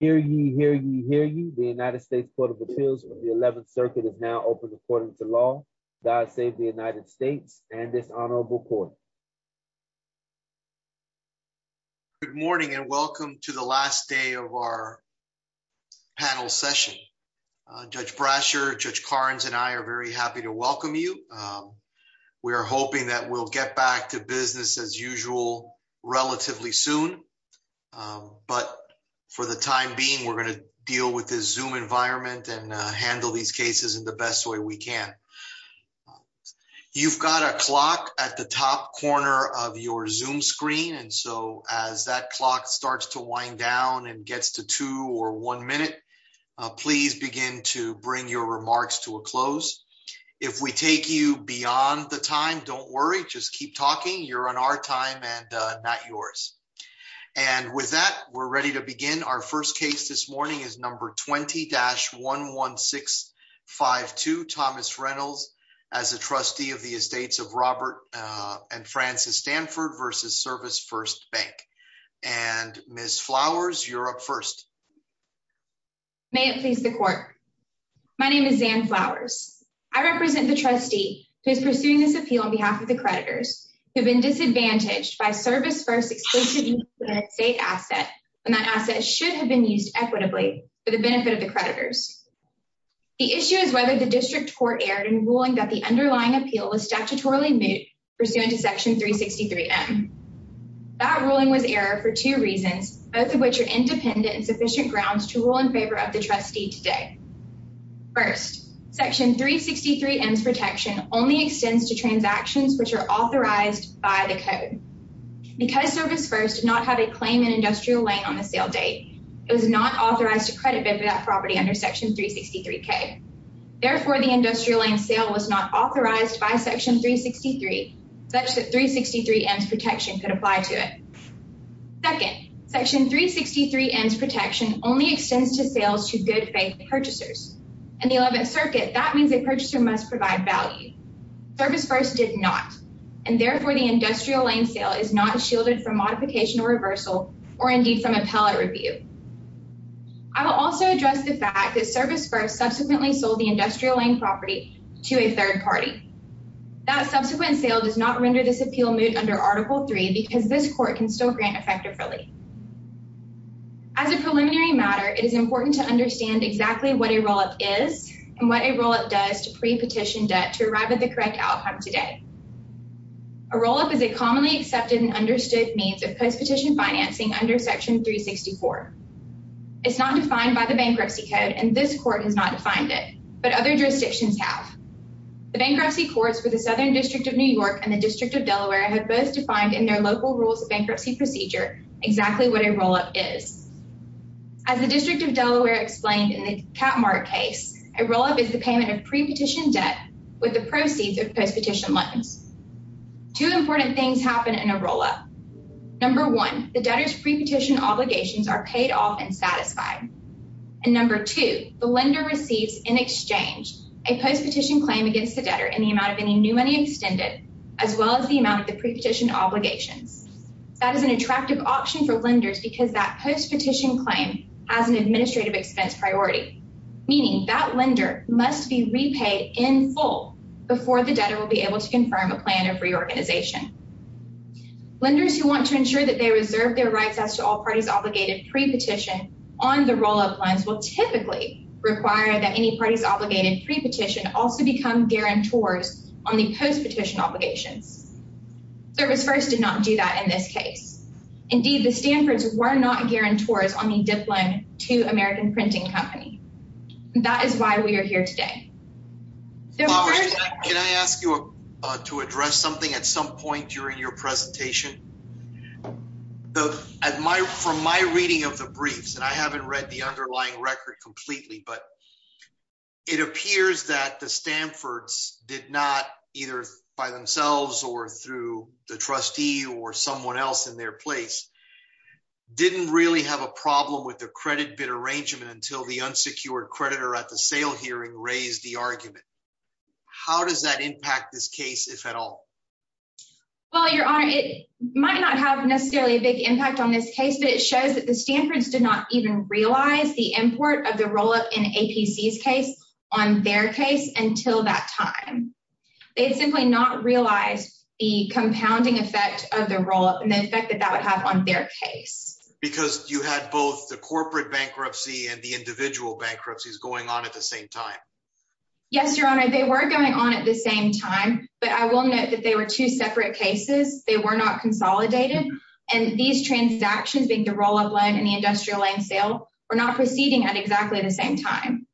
Hear ye, hear ye, hear ye. The United States Court of Appeals of the 11th Circuit is now open according to law. God save the United States and this honorable court. Good morning and welcome to the last day of our panel session. Judge Brasher, Judge Carnes, and I are very happy to welcome you. We are hoping that we'll get back to business as usual relatively soon. But for the time being, we're going to deal with the Zoom environment and handle these cases in the best way we can. You've got a clock at the top corner of your Zoom screen and so as that clock starts to wind down and gets to two or one minute, please begin to bring your remarks to a close. If we take you beyond the time, don't worry, just keep talking. You're on our time and not yours. And with that, we're ready to begin. Our first case this morning is number 20-11652, Thomas Reynolds as a trustee of the estates of Robert and Frances Stanford v. ServisFirst Bank. And Ms. Flowers, you're up first. May it please the court. My name is Zan Flowers. I represent the trustee who is pursuing this appeal on behalf of the creditors who have been disadvantaged by ServisFirst's explicit use of an estate asset when that asset should have been used equitably for the benefit of the creditors. The issue is whether the district court erred in ruling that the underlying appeal was statutorily moot pursuant to Section 363M. That ruling was error for two reasons, both of which are independent and sufficient grounds to rule in favor of the trustee today. First, Section 363M's protection only by the code. Because ServisFirst did not have a claim in Industrial Lane on the sale date, it was not authorized to credit that property under Section 363K. Therefore, the Industrial Lane sale was not authorized by Section 363, such that 363M's protection could apply to it. Second, Section 363M's protection only extends to sales to good faith purchasers. In the 11th the Industrial Lane sale is not shielded from modification or reversal or indeed from appellate review. I will also address the fact that ServisFirst subsequently sold the Industrial Lane property to a third party. That subsequent sale does not render this appeal moot under Article 3 because this court can still grant effective relief. As a preliminary matter, it is important to understand exactly what a roll-up is and what a roll-up does to pre-petition debt to arrive at the correct outcome today. A roll-up is a commonly accepted and understood means of post-petition financing under Section 364. It's not defined by the bankruptcy code and this court has not defined it, but other jurisdictions have. The bankruptcy courts for the Southern District of New York and the District of Delaware have both defined in their local rules of bankruptcy procedure exactly what a roll-up is. As the District of Delaware explained in the with the proceeds of post-petition loans. Two important things happen in a roll-up. Number one, the debtor's pre-petition obligations are paid off and satisfied. And number two, the lender receives in exchange a post-petition claim against the debtor in the amount of any new money extended as well as the amount of the pre-petition obligations. That is an attractive option for lenders because that post-petition claim has an administrative expense priority, meaning that lender must be repaid in full before the debtor will be able to confirm a plan of reorganization. Lenders who want to ensure that they reserve their rights as to all parties obligated pre-petition on the roll-up loans will typically require that any parties obligated pre-petition also become guarantors on the post-petition obligations. Service First did not do that in this case. Indeed, the Stanfords were not guarantors on the diploma to American Printing Company. That is why we are here today. Can I ask you to address something at some point during your presentation? From my reading of the briefs, and I haven't read the underlying in their place, didn't really have a problem with the credit bid arrangement until the unsecured creditor at the sale hearing raised the argument. How does that impact this case, if at all? Well, Your Honor, it might not have necessarily a big impact on this case, but it shows that the Stanfords did not even realize the import of the roll-up in APC's case on their case until that the roll-up and the effect that that would have on their case. Because you had both the corporate bankruptcy and the individual bankruptcies going on at the same time? Yes, Your Honor, they were going on at the same time, but I will note that they were two separate cases. They were not consolidated, and these transactions being the roll-up loan and the industrial lane sale were not proceeding at exactly the same time.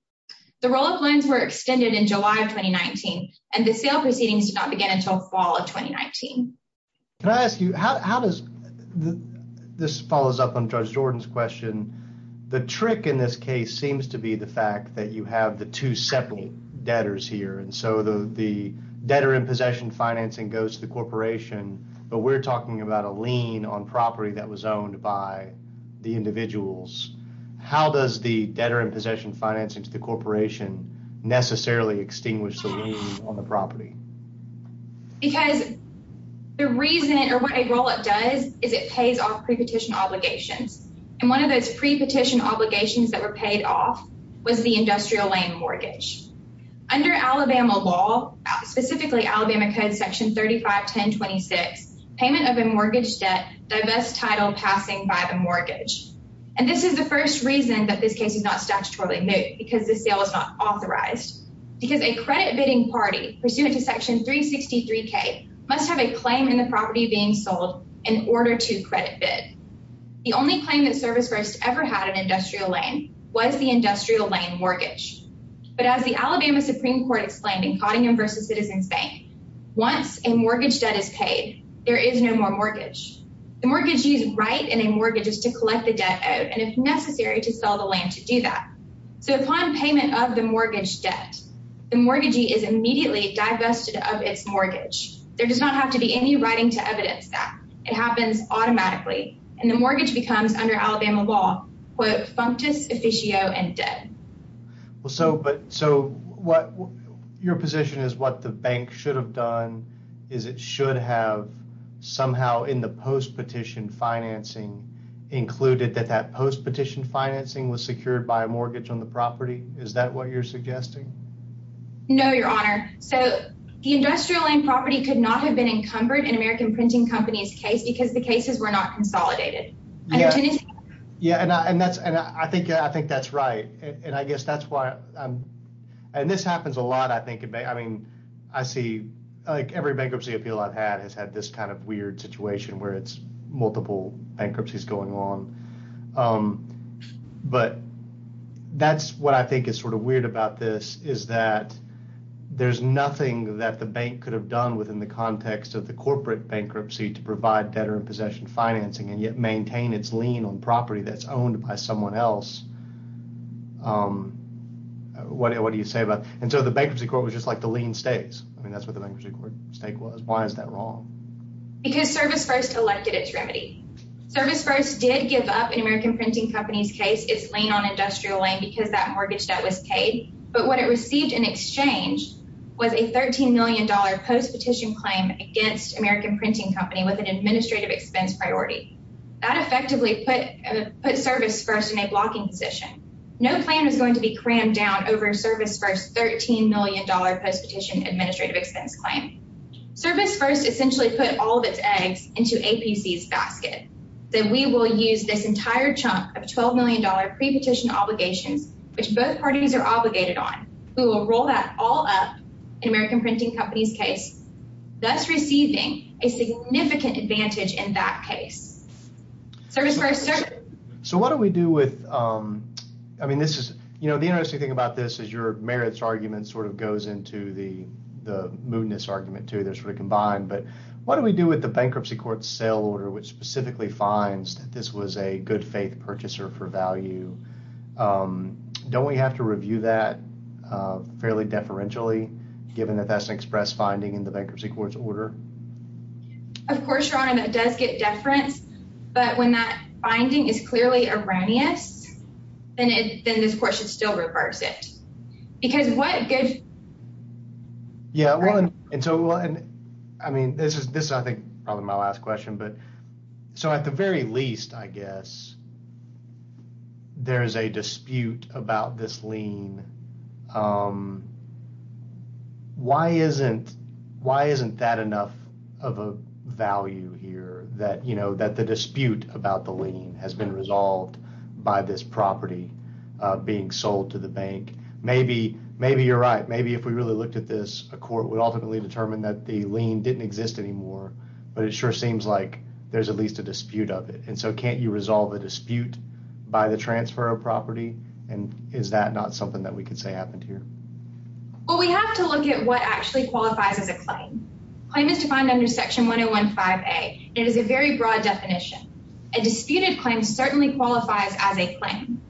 The roll-up loans were extended in July of 2019, and the sale proceedings did not begin until fall of 2019. Can I ask you, how does, this follows up on Judge Jordan's question, the trick in this case seems to be the fact that you have the two separate debtors here, and so the debtor in possession financing goes to the corporation, but we're talking about a lien on property that was owned by the individuals. How does the debtor in possession financing to the corporation necessarily extinguish the lien on the property? Because the reason or what a roll-up does is it pays off pre-petition obligations, and one of those pre-petition obligations that were paid off was the industrial lane mortgage. Under Alabama law, specifically Alabama Code Section 35-1026, payment of a mortgage debt divest title passing by the mortgage, and this is the first reason that this case is not statutorily moot, because the sale is not authorized, because a credit bidding party pursuant to Section 363K must have a claim in the property being sold in order to credit bid. The only claim that Service First ever had an industrial lane was the industrial lane mortgage, but as the Alabama Supreme Court explained in Cottingham v. Citizens Bank, once a mortgage debt is paid, there is no more mortgage. The mortgagee's right in a mortgage is to collect the debt out, and if necessary, to sell the land to do that. So upon payment of the mortgage debt, the mortgagee is immediately divested of its mortgage. There does not have to be any writing to evidence that. It happens automatically, and the mortgage becomes under Alabama law, quote, functus officio and dead. Well, so but so what your position is what the bank should have done is it should have somehow in the post-petition financing included that that post-petition financing was secured by a mortgage on the property? Is that what you're suggesting? No, your honor. So the industrial land property could not have been encumbered in American Printing Company's case because the cases were not consolidated. Yeah, yeah, and that's and I think I think that's right, and I guess that's why I'm and this happens a lot. I think I mean I see like every bankruptcy appeal I've had has this kind of weird situation where it's multiple bankruptcies going on, but that's what I think is sort of weird about this is that there's nothing that the bank could have done within the context of the corporate bankruptcy to provide debtor in possession financing and yet maintain its lien on property that's owned by someone else. What do you say about and so the bankruptcy court was just like the lien stays. I mean that's what the bankruptcy court stake was. Why is that wrong? Because Service First elected its remedy. Service First did give up in American Printing Company's case its lien on industrial land because that mortgage debt was paid, but what it received in exchange was a 13 million dollar post-petition claim against American Printing Company with an administrative expense priority. That effectively put put Service First in a blocking position. No plan was going to be crammed down over Service First's 13 million post-petition administrative expense claim. Service First essentially put all of its eggs into APC's basket that we will use this entire chunk of 12 million dollar pre-petition obligations which both parties are obligated on. We will roll that all up in American Printing Company's case, thus receiving a significant advantage in that case. Service First. So what do we do with I mean you know the interesting thing about this is your merits argument sort of goes into the moodness argument too. They're sort of combined, but what do we do with the bankruptcy court's sale order which specifically finds that this was a good faith purchaser for value? Don't we have to review that fairly deferentially given that that's an express finding in the bankruptcy court's order? Of course, your honor, that does get deference, but when that finding is clearly erroneous, then it then this court should still reverse it because what good. Yeah, well and so and I mean this is this I think probably my last question, but so at the very least I guess there is a dispute about this lien. Why isn't why isn't that of a value here that you know that the dispute about the lien has been resolved by this property being sold to the bank? Maybe you're right. Maybe if we really looked at this, a court would ultimately determine that the lien didn't exist anymore, but it sure seems like there's at least a dispute of it and so can't you resolve a dispute by the transfer of property and is that not something that we could say happened here? Well, we have to look at what actually qualifies as a claim. A claim is defined under Section 1015A. It is a very broad definition. A disputed claim certainly qualifies as a claim.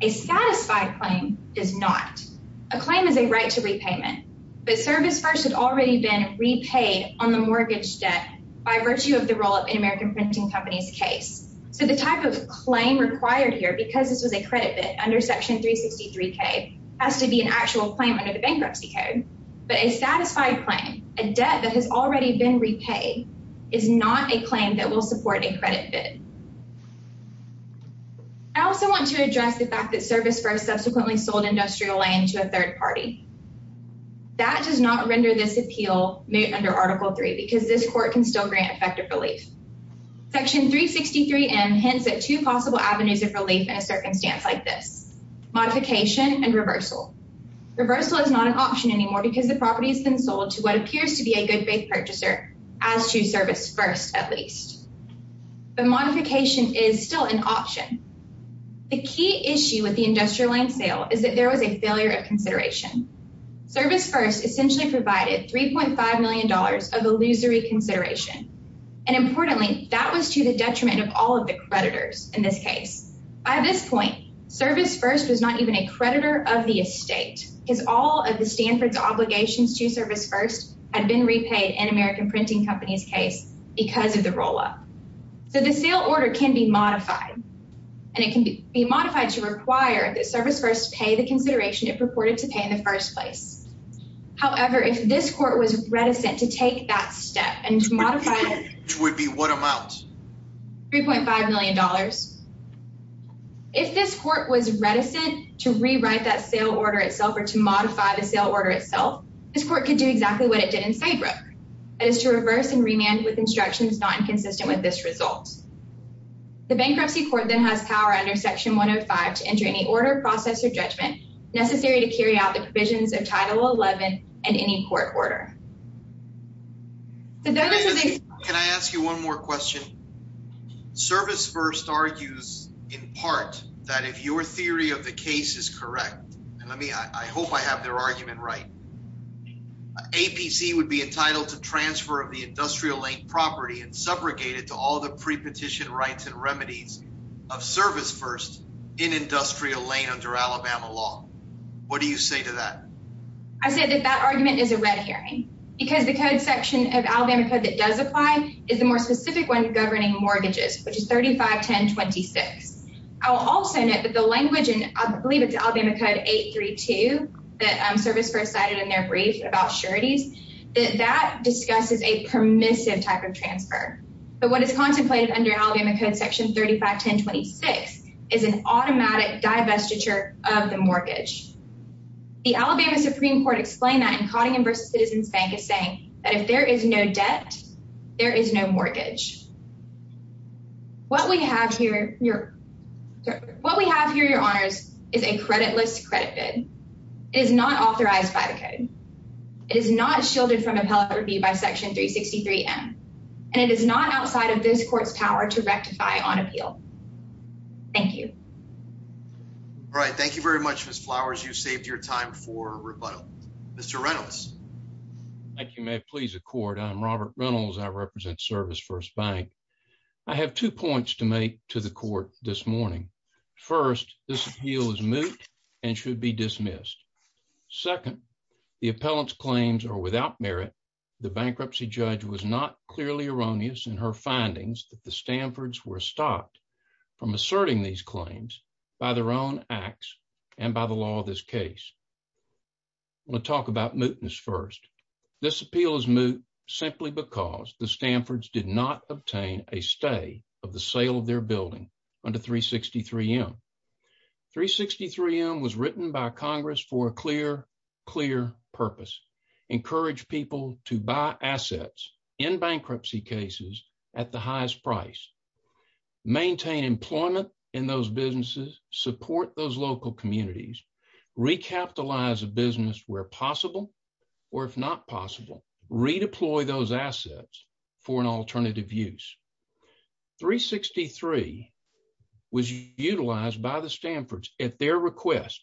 A satisfied claim does not. A claim is a right to repayment, but Service First had already been repaid on the mortgage debt by virtue of the roll-up in American Printing Company's case, so the type of claim required here because this was a credit bid under Section 363K has to be an actual claim under the bankruptcy code, but a satisfied claim, a debt that has already been repaid, is not a claim that will support a credit bid. I also want to address the fact that Service First subsequently sold industrial land to a third party. That does not render this appeal moot under Article 3 because this court can still grant effective relief. Section 363M hints at two possible avenues of relief in a circumstance like this, modification and reversal. Reversal is not an option anymore because the property has been sold to what appears to be a good faith purchaser, as to Service First at least, but modification is still an option. The key issue with the industrial land sale is that there was a failure of consideration. Service First essentially provided $3.5 million of illusory consideration, and importantly, that was to the detriment of all of the creditors in this case. By this point, Service First was not even a creditor of the estate because all of the Stanford's obligations to Service First had been repaid in American Printing Company's case because of the roll-up. So the sale order can be modified, and it can be modified to require that Service First pay the consideration it purported to pay in the first place. However, if this court was reticent to take that step and modify it, which would be what amount? $3.5 million. If this court was reticent to rewrite that sale order itself or to modify the sale order itself, this court could do exactly what it did in Saybrook. It is to reverse and remand with instructions not inconsistent with this result. The bankruptcy court then has power under Section 105 to enter any order, process, or judgment necessary to carry out the provisions of Title 11 and any court order. Can I ask you one more question? Service First argues in part that if your theory of the case is correct, and I hope I have their argument right, APC would be entitled to transfer of the industrial lane property and subrogate it to all the pre-petition rights and remedies of Service First in industrial lane under Alabama law. What do you say to that? I said that that argument is a red because the code section of Alabama Code that does apply is the more specific one governing mortgages, which is 351026. I'll also note that the language, and I believe it's Alabama Code 832 that Service First cited in their brief about sureties, that that discusses a permissive type of transfer. But what is contemplated under Alabama Code Section 351026 is an automatic that if there is no debt, there is no mortgage. What we have here, your honors, is a creditless credit bid. It is not authorized by the code. It is not shielded from appellate review by Section 363M, and it is not outside of this court's power to rectify on appeal. Thank you. All right. Thank you very much, Ms. Flowers. You saved your time for rebuttal. Mr. Reynolds. Thank you. May it please the court. I'm Robert Reynolds. I represent Service First Bank. I have two points to make to the court this morning. First, this appeal is moot and should be dismissed. Second, the appellant's claims are without merit. The bankruptcy judge was not clearly erroneous in her findings that the Stanford's were stopped from asserting these first. This appeal is moot simply because the Stanford's did not obtain a stay of the sale of their building under 363M. 363M was written by Congress for a clear, clear purpose. Encourage people to buy assets in bankruptcy cases at the highest price. Maintain employment in those or if not possible, redeploy those assets for an alternative use. 363 was utilized by the Stanford's at their request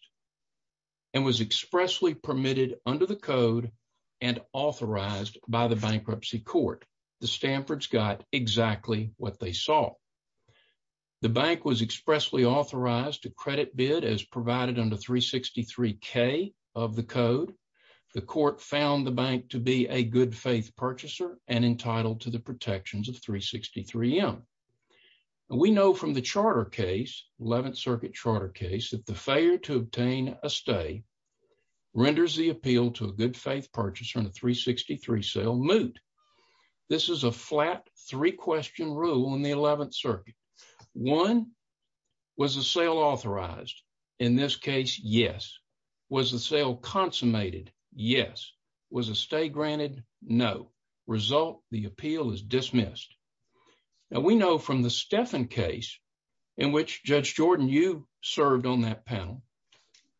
and was expressly permitted under the code and authorized by the bankruptcy court. The Stanford's got exactly what they saw. The bank was expressly authorized to credit bid as provided under 363K of the code. The court found the bank to be a good faith purchaser and entitled to the protections of 363M. We know from the charter case, 11th circuit charter case, that the failure to obtain a stay renders the appeal to a good faith purchaser in a 363 sale moot. This is a flat three question rule in the 11th circuit. One, was the sale authorized? In this case, yes. Was the sale consummated? Yes. Was a stay granted? No. Result, the appeal is dismissed. Now we know from the Stephan case in which Judge Jordan, you served on that panel.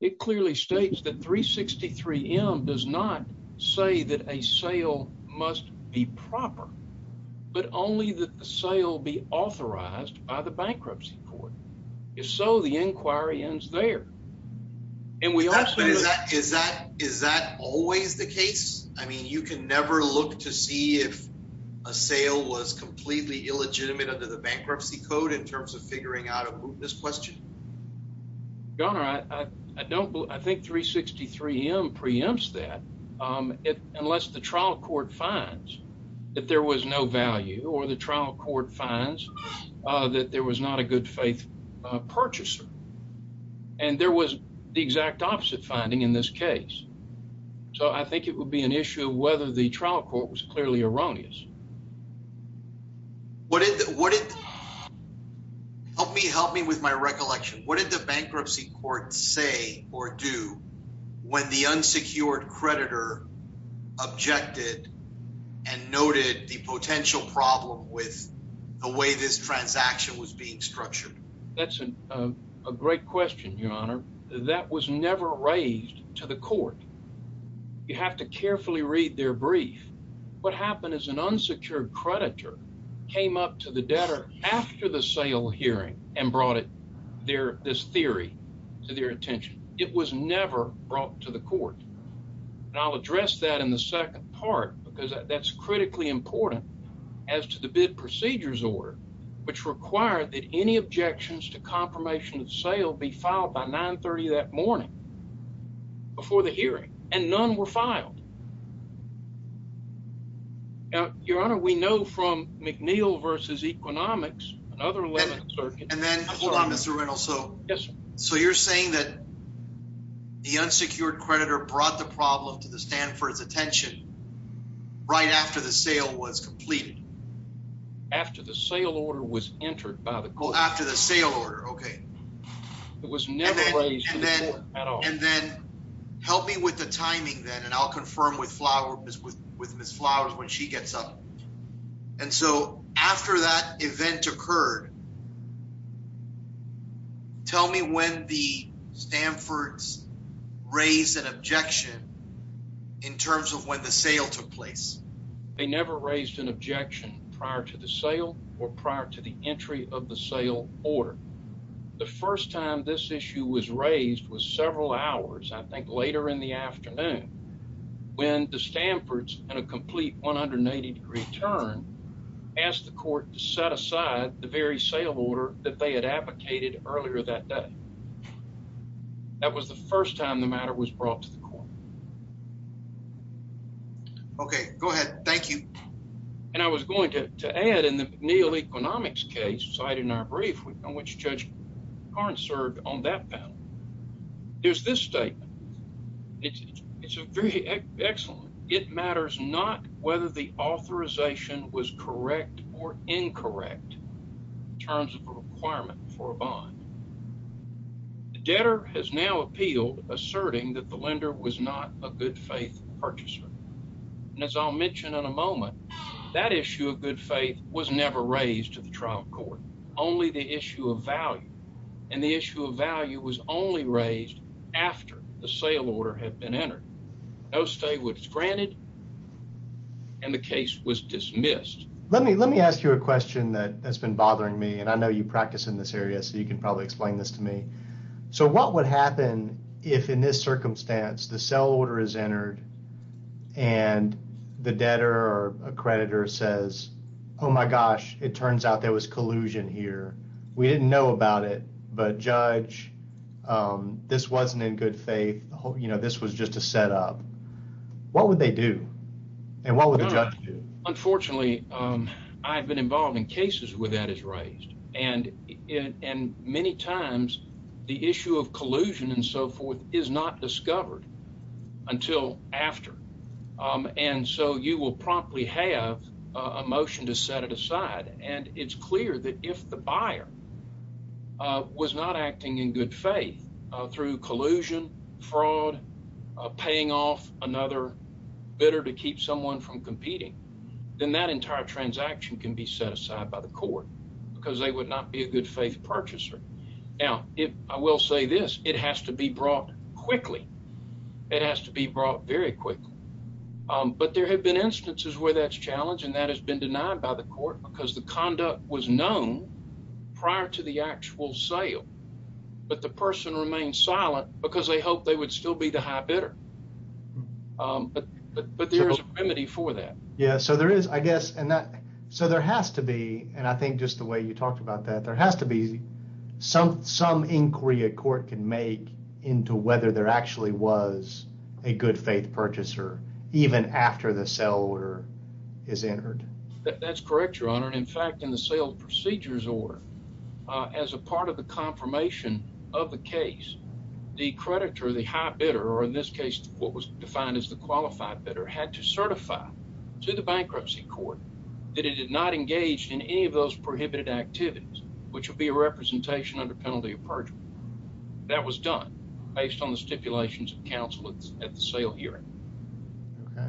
It clearly states that 363M does not say that a sale must be proper, but only that the sale be authorized by the bankruptcy court. If so, the inquiry ends there. Is that always the case? I mean, you can never look to see if a sale was completely illegitimate under the bankruptcy code in terms of figuring out this question. Your Honor, I think 363M preempts that unless the trial court finds that there was no value or the trial court finds that there was not a good faith purchaser. And there was the exact opposite finding in this case. So I think it would be an issue whether the trial court was clearly erroneous. What did, what did, help me, help me with my recollection. What did the bankruptcy court say or do when the unsecured creditor objected and noted the potential problem with the way this transaction was being structured? That's a great question, Your Honor. That was never raised to the creditor, came up to the debtor after the sale hearing and brought it there, this theory to their attention. It was never brought to the court. And I'll address that in the second part, because that's critically important as to the bid procedures order, which required that any objections to confirmation of sale be filed by 930 that morning before the hearing and none were filed. Now, Your Honor, we know from McNeil v. Economics, another 11th Circuit. And then, hold on, Mr. Reynolds. Yes, sir. So you're saying that the unsecured creditor brought the problem to the stand for its attention right after the sale was completed? After the sale order was entered by the court. Well, after the sale order, okay. It was never raised to the court at all. And then, help me with the timing then, I'll confirm with Ms. Flowers when she gets up. And so, after that event occurred, tell me when the Stanford's raised an objection in terms of when the sale took place. They never raised an objection prior to the sale or prior to the entry of the sale order. The first time this issue was raised was several hours, I think, later in the afternoon. When the Stanford's in a complete 180 degree turn, asked the court to set aside the very sale order that they had advocated earlier that day. That was the first time the matter was brought to the court. Okay, go ahead. Thank you. And I was going to add in the McNeil v. Economics case cited in our brief on which Judge Karn served on that panel. There's this statement. It's very excellent. It matters not whether the authorization was correct or incorrect in terms of a requirement for a bond. The debtor has now appealed asserting that the lender was not a good faith purchaser. And as I'll mention in a moment, that issue of good faith was never raised to the trial court, only the issue of value. And the issue of value was only raised after the sale order had been entered. No stay was granted and the case was dismissed. Let me ask you a question that has been bothering me. And I know you practice in this area, so you can probably explain this to me. So what would happen if in this circumstance, the sale order is entered and the debtor or accreditor says, oh my gosh, it turns out there was collusion here. We didn't know about it, but Judge, this wasn't in good faith. This was just a setup. What would they do? And what would the judge do? Unfortunately, I've been involved in cases where that is raised. And many times, the issue of collusion and so forth is not discovered until after. And so you will probably have a motion to set it aside. And it's clear that if the buyer was not acting in good faith through collusion, fraud, paying off another bidder to keep someone from competing, then that entire transaction can be set aside by the court because they would not be a good faith purchaser. Now, I will say this, it has to be brought quickly. It has to be brought very quickly. But there have been instances where that's challenged and that has been denied by the court because the conduct was known prior to the actual sale. But the person remained silent because they hoped they would still be the high bidder. But there is a remedy for that. Yeah. So there is, I guess. So there has to be, and I think just the way you talked about that, there has to be some inquiry a court can make into whether there actually was a good faith purchaser even after the sale order is entered. That's correct, Your Honor. And in fact, in the sale procedures order, as a part of the confirmation of the case, the creditor, the high bidder, or in this case, what was defined as the qualified bidder, had to certify to the bankruptcy court that it did not engage in any of those prohibited activities, which would be a representation under penalty of based on the stipulations of counsel at the sale hearing. Okay.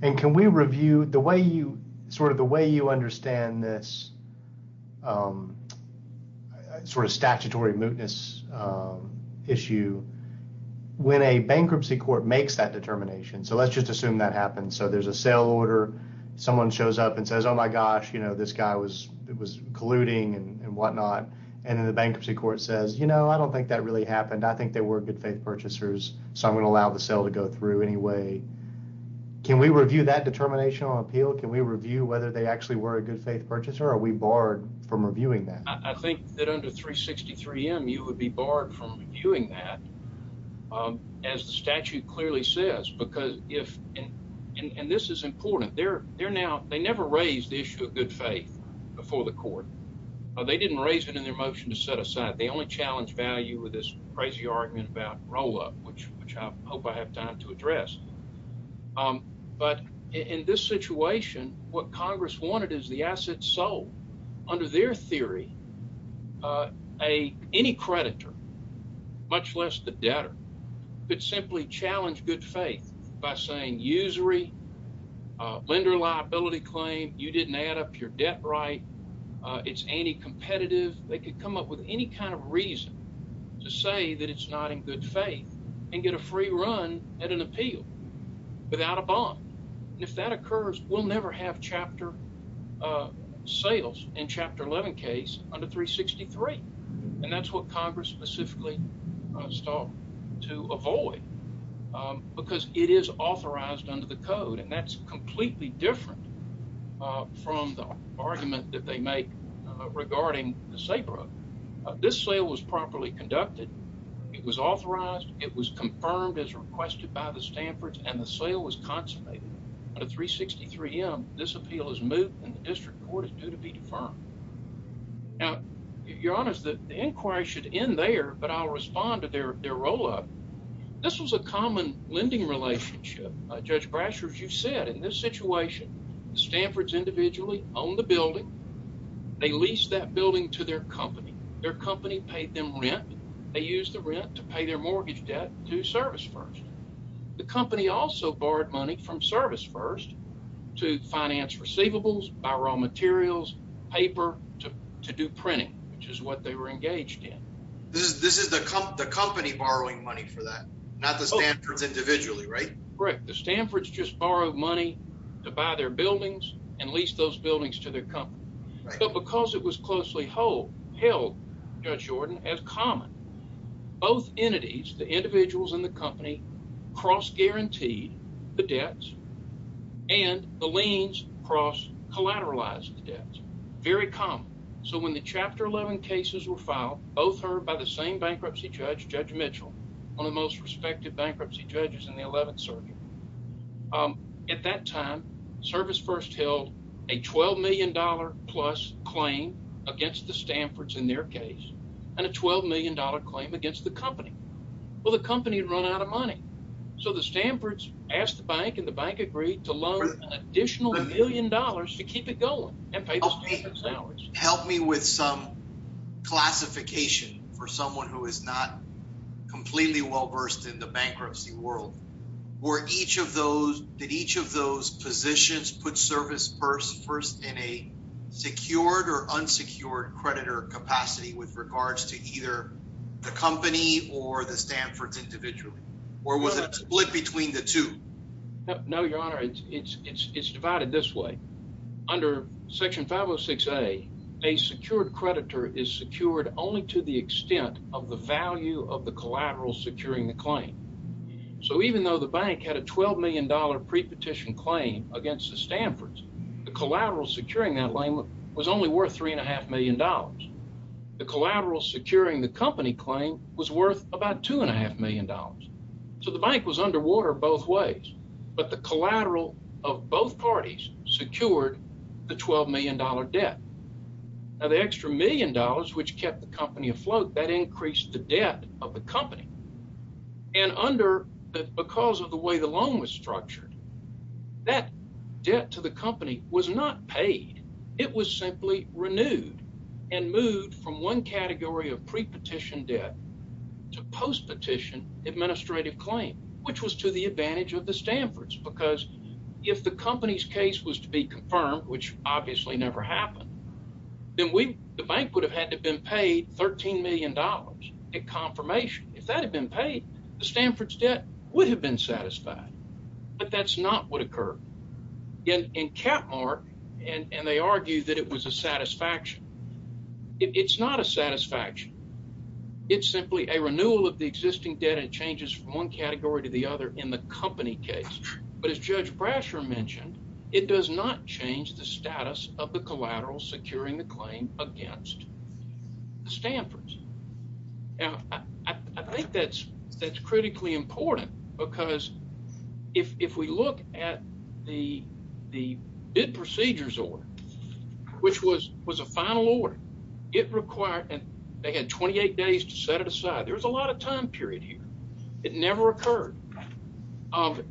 And can we review sort of the way you understand this sort of statutory mootness issue when a bankruptcy court makes that determination? So let's just assume that happens. So there's a sale order. Someone shows up and says, oh my gosh, this guy was colluding and whatnot. And then the bankruptcy court says, you know, I don't think that really happened. I think they were good faith purchasers. So I'm going to allow the sale to go through anyway. Can we review that determination on appeal? Can we review whether they actually were a good faith purchaser or are we barred from reviewing that? I think that under 363M, you would be barred from reviewing that as the statute clearly says. And this is important. They never raised the issue of good faith before the court. They didn't raise it in their motion to set aside. They only challenged value with this crazy argument about roll-up, which I hope I have time to address. But in this situation, what Congress wanted is the assets sold. Under their theory, any creditor, much less the debtor, could simply challenge good faith by saying usury, lender liability claim, you didn't add up your debt right. It's anti-competitive. They could come up with any kind of reason to say that it's not in good faith and get a free run at an appeal without a bond. And if that occurs, we'll never have chapter sales in Chapter 11 case under 363. And that's what Congress specifically sought to avoid because it is authorized under the code. And that's completely different from the argument that they make regarding the SABRA. This sale was properly conducted. It was authorized. It was confirmed as requested by the Stanford's and the sale was consummated. Under 363M, this appeal is moved and the district court is due to be deferred. Now, you're honest that the inquiry should end there, but I'll comment on the common lending relationship. Judge Brashers, you said in this situation, Stanford's individually owned the building. They leased that building to their company. Their company paid them rent. They used the rent to pay their mortgage debt to Service First. The company also borrowed money from Service First to finance receivables, buy raw materials, paper to do printing, which is what they were engaged in. This is the company borrowing money for that, not the Stanford's individually, right? Correct. The Stanford's just borrowed money to buy their buildings and lease those buildings to their company. But because it was closely held, Judge Jordan, as common, both entities, the individuals in the company, cross-guaranteed the debts and the liens cross-collateralized the same bankruptcy judge, Judge Mitchell, one of the most respected bankruptcy judges in the 11th circuit. At that time, Service First held a $12M plus claim against the Stanford's in their case and a $12M claim against the company. Well, the company had run out of money. So the Stanford's asked the bank and the bank agreed to loan an additional $1M to keep it going. Help me with some classification for someone who is not completely well-versed in the bankruptcy world. Did each of those positions put Service First in a secured or unsecured creditor capacity with regards to either the company or the Stanford's individually? Or was it split between the two? No, Your Honor. It's divided this way. Under Section 506A, a secured creditor is secured only to the extent of the value of the collateral securing the claim. So even though the bank had a $12M pre-petition claim against the Stanford's, the collateral securing that claim was only worth $3.5M. The collateral securing the company claim was worth about $2.5M. So the bank was underwater both ways. But the collateral of both parties secured the $12M debt. Now, the extra $1M which kept the company afloat, that increased the debt of the company. And because of the way the loan was structured, that debt to the company was not paid. It was simply renewed and moved from one advantage of the Stanford's. Because if the company's case was to be confirmed, which obviously never happened, then the bank would have had to have been paid $13M in confirmation. If that had been paid, the Stanford's debt would have been satisfied. But that's not what occurred. In Capmark, and they argue that it was a satisfaction. It's not a satisfaction. It's simply a renewal of the existing debt. It changes from one category to the other in the company case. But as Judge Brasher mentioned, it does not change the status of the collateral securing the claim against the Stanford's. Now, I think that's critically important because if we look at the bid procedures order, which was a final order, it required, and they had 28 days to set it aside. There's a lot of time period here. It never occurred.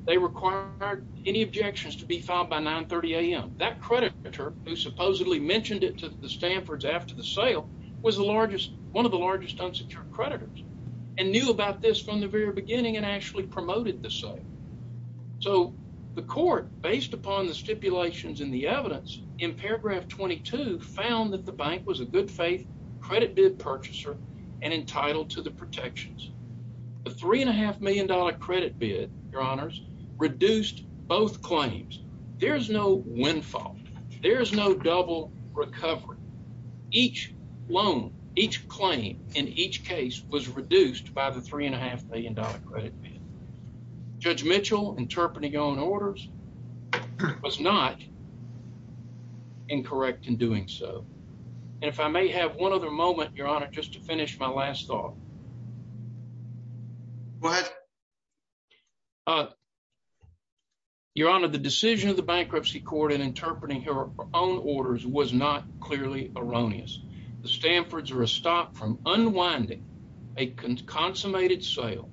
They required any objections to be filed by 9.30am. That creditor, who supposedly mentioned it to the Stanford's after the sale, was the largest, one of the largest unsecured creditors and knew about this from the very beginning and actually promoted the sale. So the court, based upon the stipulations in the evidence, in paragraph 22, found that the bank was a good faith credit bid purchaser and entitled to the protections. The $3.5 million credit bid, your honors, reduced both claims. There is no windfall. There is no double recovery. Each loan, each claim in each case was reduced by the $3.5 million credit bid. Judge Mitchell interpreting own orders was not incorrect in doing so. And if I may have one other moment, your honor, just to finish my last thought. What? Your honor, the decision of the bankruptcy court in interpreting her own orders was not clearly erroneous. The Stanford's are a stop from unwinding a consummated sale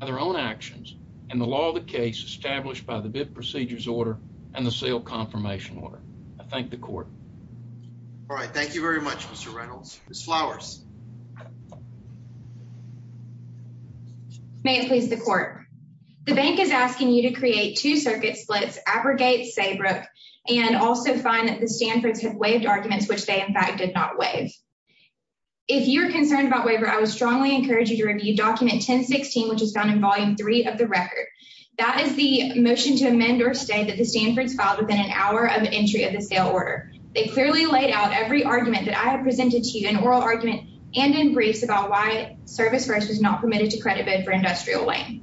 of their own actions and the law of the case established by the bid procedures order and the sale confirmation order. I thank the court. All right. Thank you very much, Mr. Reynolds. Ms. Flowers. May it please the court. The bank is asking you to create two circuit splits, abrogate Saybrook and also find that the Stanford's have waived arguments, which they in fact did not waive. If you're concerned about waiver, I would strongly encourage you to review document 1016, which is found in volume three of the record. That is the motion to amend or stay that the Stanford's filed within an hour of entry of the sale order. They clearly laid out every argument that I had presented to you in oral argument and in briefs about why service first was not permitted to credit bid for industrial lane.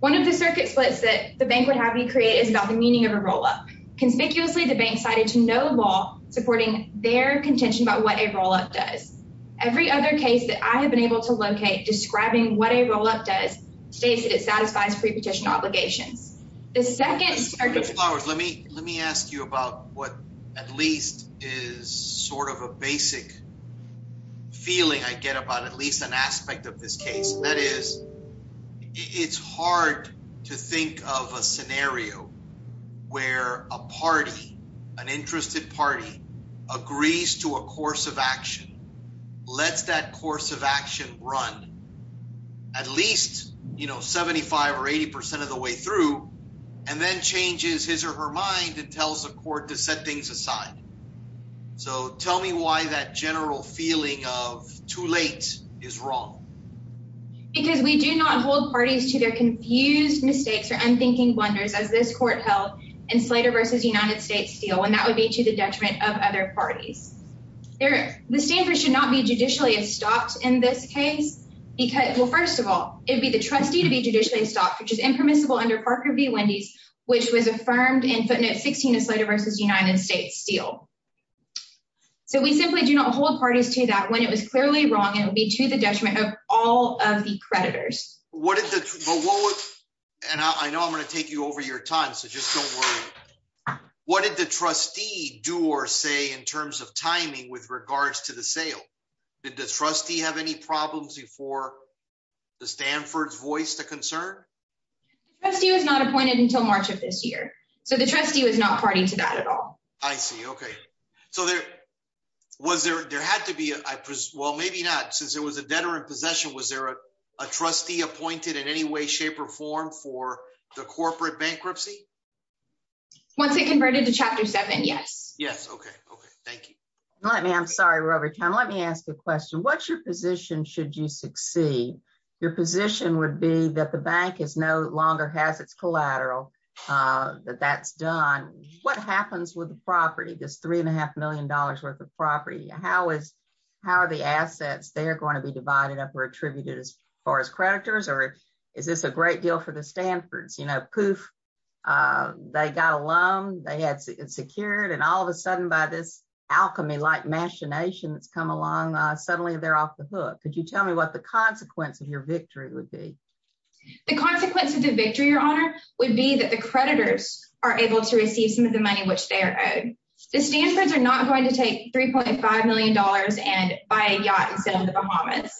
One of the circuit splits that the bank would have you create is about the meaning of a rollup. Conspicuously, the bank cited to no law supporting their contention about what a rollup does. Every other case that I have been able to locate describing what a rollup does states that it satisfies prepetition obligations. The second circuit. Flowers, let me let me ask you about what at least is sort of a basic feeling I get about at least an aspect of this case. That is, it's hard to think of a scenario where a party, an interested party agrees to a course of action. Let's that course of action run at least, you know, 75 or 80% of the way through and then changes his or her mind and tells the court to set things aside. So tell me why that general feeling of too late is wrong. Because we do not hold parties to their confused mistakes or unthinking blunders, as this court held in Slater versus United States Steel, and that would be to the detriment of other parties there. The standard should not be judicially stopped in this case because, well, first of all, it would be the trustee to be judicially stopped, which is impermissible under Parker v. Wendy's, which was affirmed in footnote 16 of Slater versus United States Steel. So we simply do not hold parties to that. When it was clearly wrong, it would be to the detriment of all of the creditors. And I know I'm going to take you over your time, so just don't worry. What did the trustee do or say in terms of timing with regards to the sale? Did the trustee have any problems before the Stanford's voiced a concern? The trustee was not appointed until March of this year. So the trustee was not party to that at all. I see. Okay. So there had to be, well, maybe not. Since there was a debtor in possession, was there a trustee appointed in any way, shape, or form for the corporate bankruptcy? Once it converted to Chapter 7, yes. Yes. Okay. Okay. Thank you. I'm sorry we're over time. Let me ask a question. What's your position should you succeed? Your position would be that the bank no longer has its collateral, that that's done. What happens with the property, this $3.5 million worth of property? How are the assets, they're going to be divided up or attributed as far as creditors, or is this a great deal for the Stanford's? They got a loan, they had secured, and all of a sudden by this alchemy-like machination that's come along, suddenly they're off the hook. Could you tell me what the consequence of your victory would be? The consequence of the victory, would be that the creditors are able to receive some of the money which they are owed. The Stanford's are not going to take $3.5 million and buy a yacht instead of the Bahamas.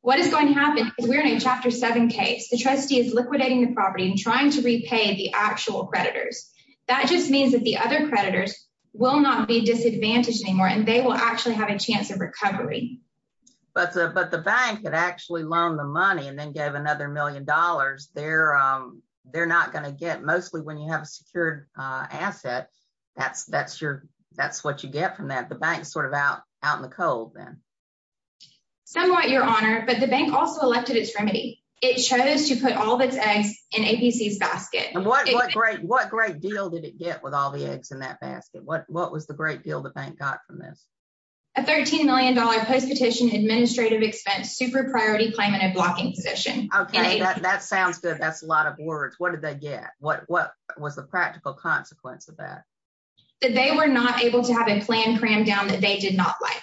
What is going to happen is we're in a Chapter 7 case. The trustee is liquidating the property and trying to repay the actual creditors. That just means that the other creditors will not be disadvantaged anymore, and they will actually have a chance of recovery. But the bank had actually loaned the money and then gave another million dollars. They're not going to get, mostly when you have a secured asset, that's what you get from that. The bank's sort of out in the cold then. Somewhat, Your Honor, but the bank also elected its remedy. It chose to put all of its eggs in ABC's basket. What great deal did it get with all the eggs in that basket? What was the great deal the bank got from this? A $13 million post-petition administrative expense, super priority claim, and a blocking position. Okay, that sounds good. That's a lot of words. What did they get? What was the practical consequence of that? They were not able to have a plan crammed down that they did not like.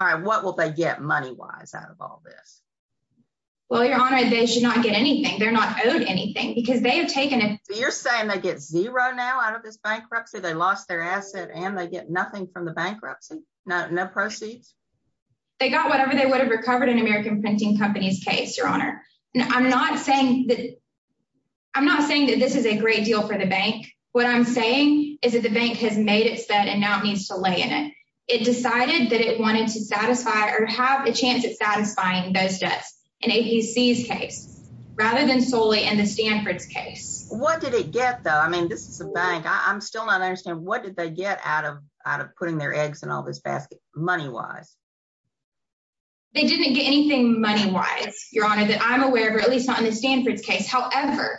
All right, what will they get money-wise out of all this? Well, Your Honor, they should not get anything. They're not owed anything. Because they have taken a- You're saying they get zero now out of this bankruptcy? They lost their asset and they get nothing from the bankruptcy? No proceeds? They got whatever they would have recovered in American Printing Company's case, Your Honor. I'm not saying that this is a great deal for the bank. What I'm saying is that the bank has made its bet and now it needs to lay in it. It decided that it wanted to satisfy or have a chance at satisfying those debts in ABC's case rather than solely in the Stanford's case. What did it get, though? I mean, this is a bank. I'm still not understanding. What did they get out of putting their eggs in all this basket money-wise? They didn't get anything money-wise, Your Honor, that I'm aware of, or at least not in the Stanford's case. However,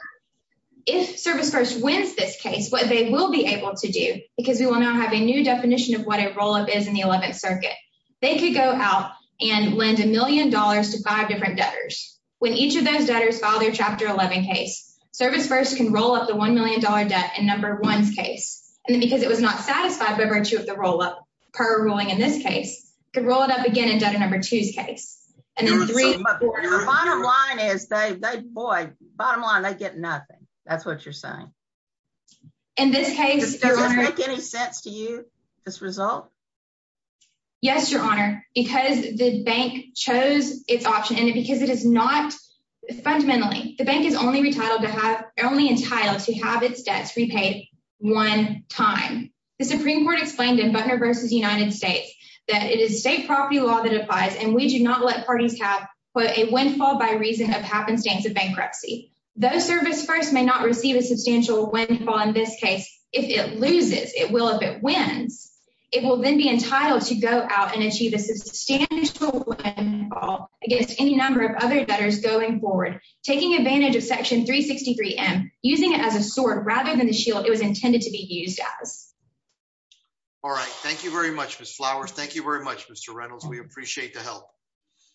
if Service First wins this case, what they will be able to do, because we will now have a new definition of what a roll-up is in the 11th Circuit, they could go out and lend a million dollars to five different debtors. When each of those debtors file their Chapter 11 case, Service First can roll up the $1 million debt in Number 1's case. And because it was not satisfied by virtue of the roll-up, per our ruling in this case, it could roll it up again in Debtor Number 2's case. And then the bottom line is, boy, bottom line, they get nothing. That's what you're saying. In this case, Your Honor— Does this make any sense to you, this result? Yes, Your Honor, because the bank chose its option, and because it is not—fundamentally, the bank is only entitled to have its debts repaid one time. The Supreme Court explained in Butner v. United States that it is state property law that applies, and we do not let parties have, quote, a windfall by reason of happenstance of bankruptcy. Though Service First may not receive a substantial windfall in this case, if it loses—it will if it wins—it will then be entitled to go out and achieve a substantial windfall against any number of other debtors going forward, taking advantage of Section 363M, using it as a sword rather than the shield it was intended to be used as. All right. Thank you very much, Ms. Flowers. Thank you very much, Mr. Reynolds. We appreciate the help.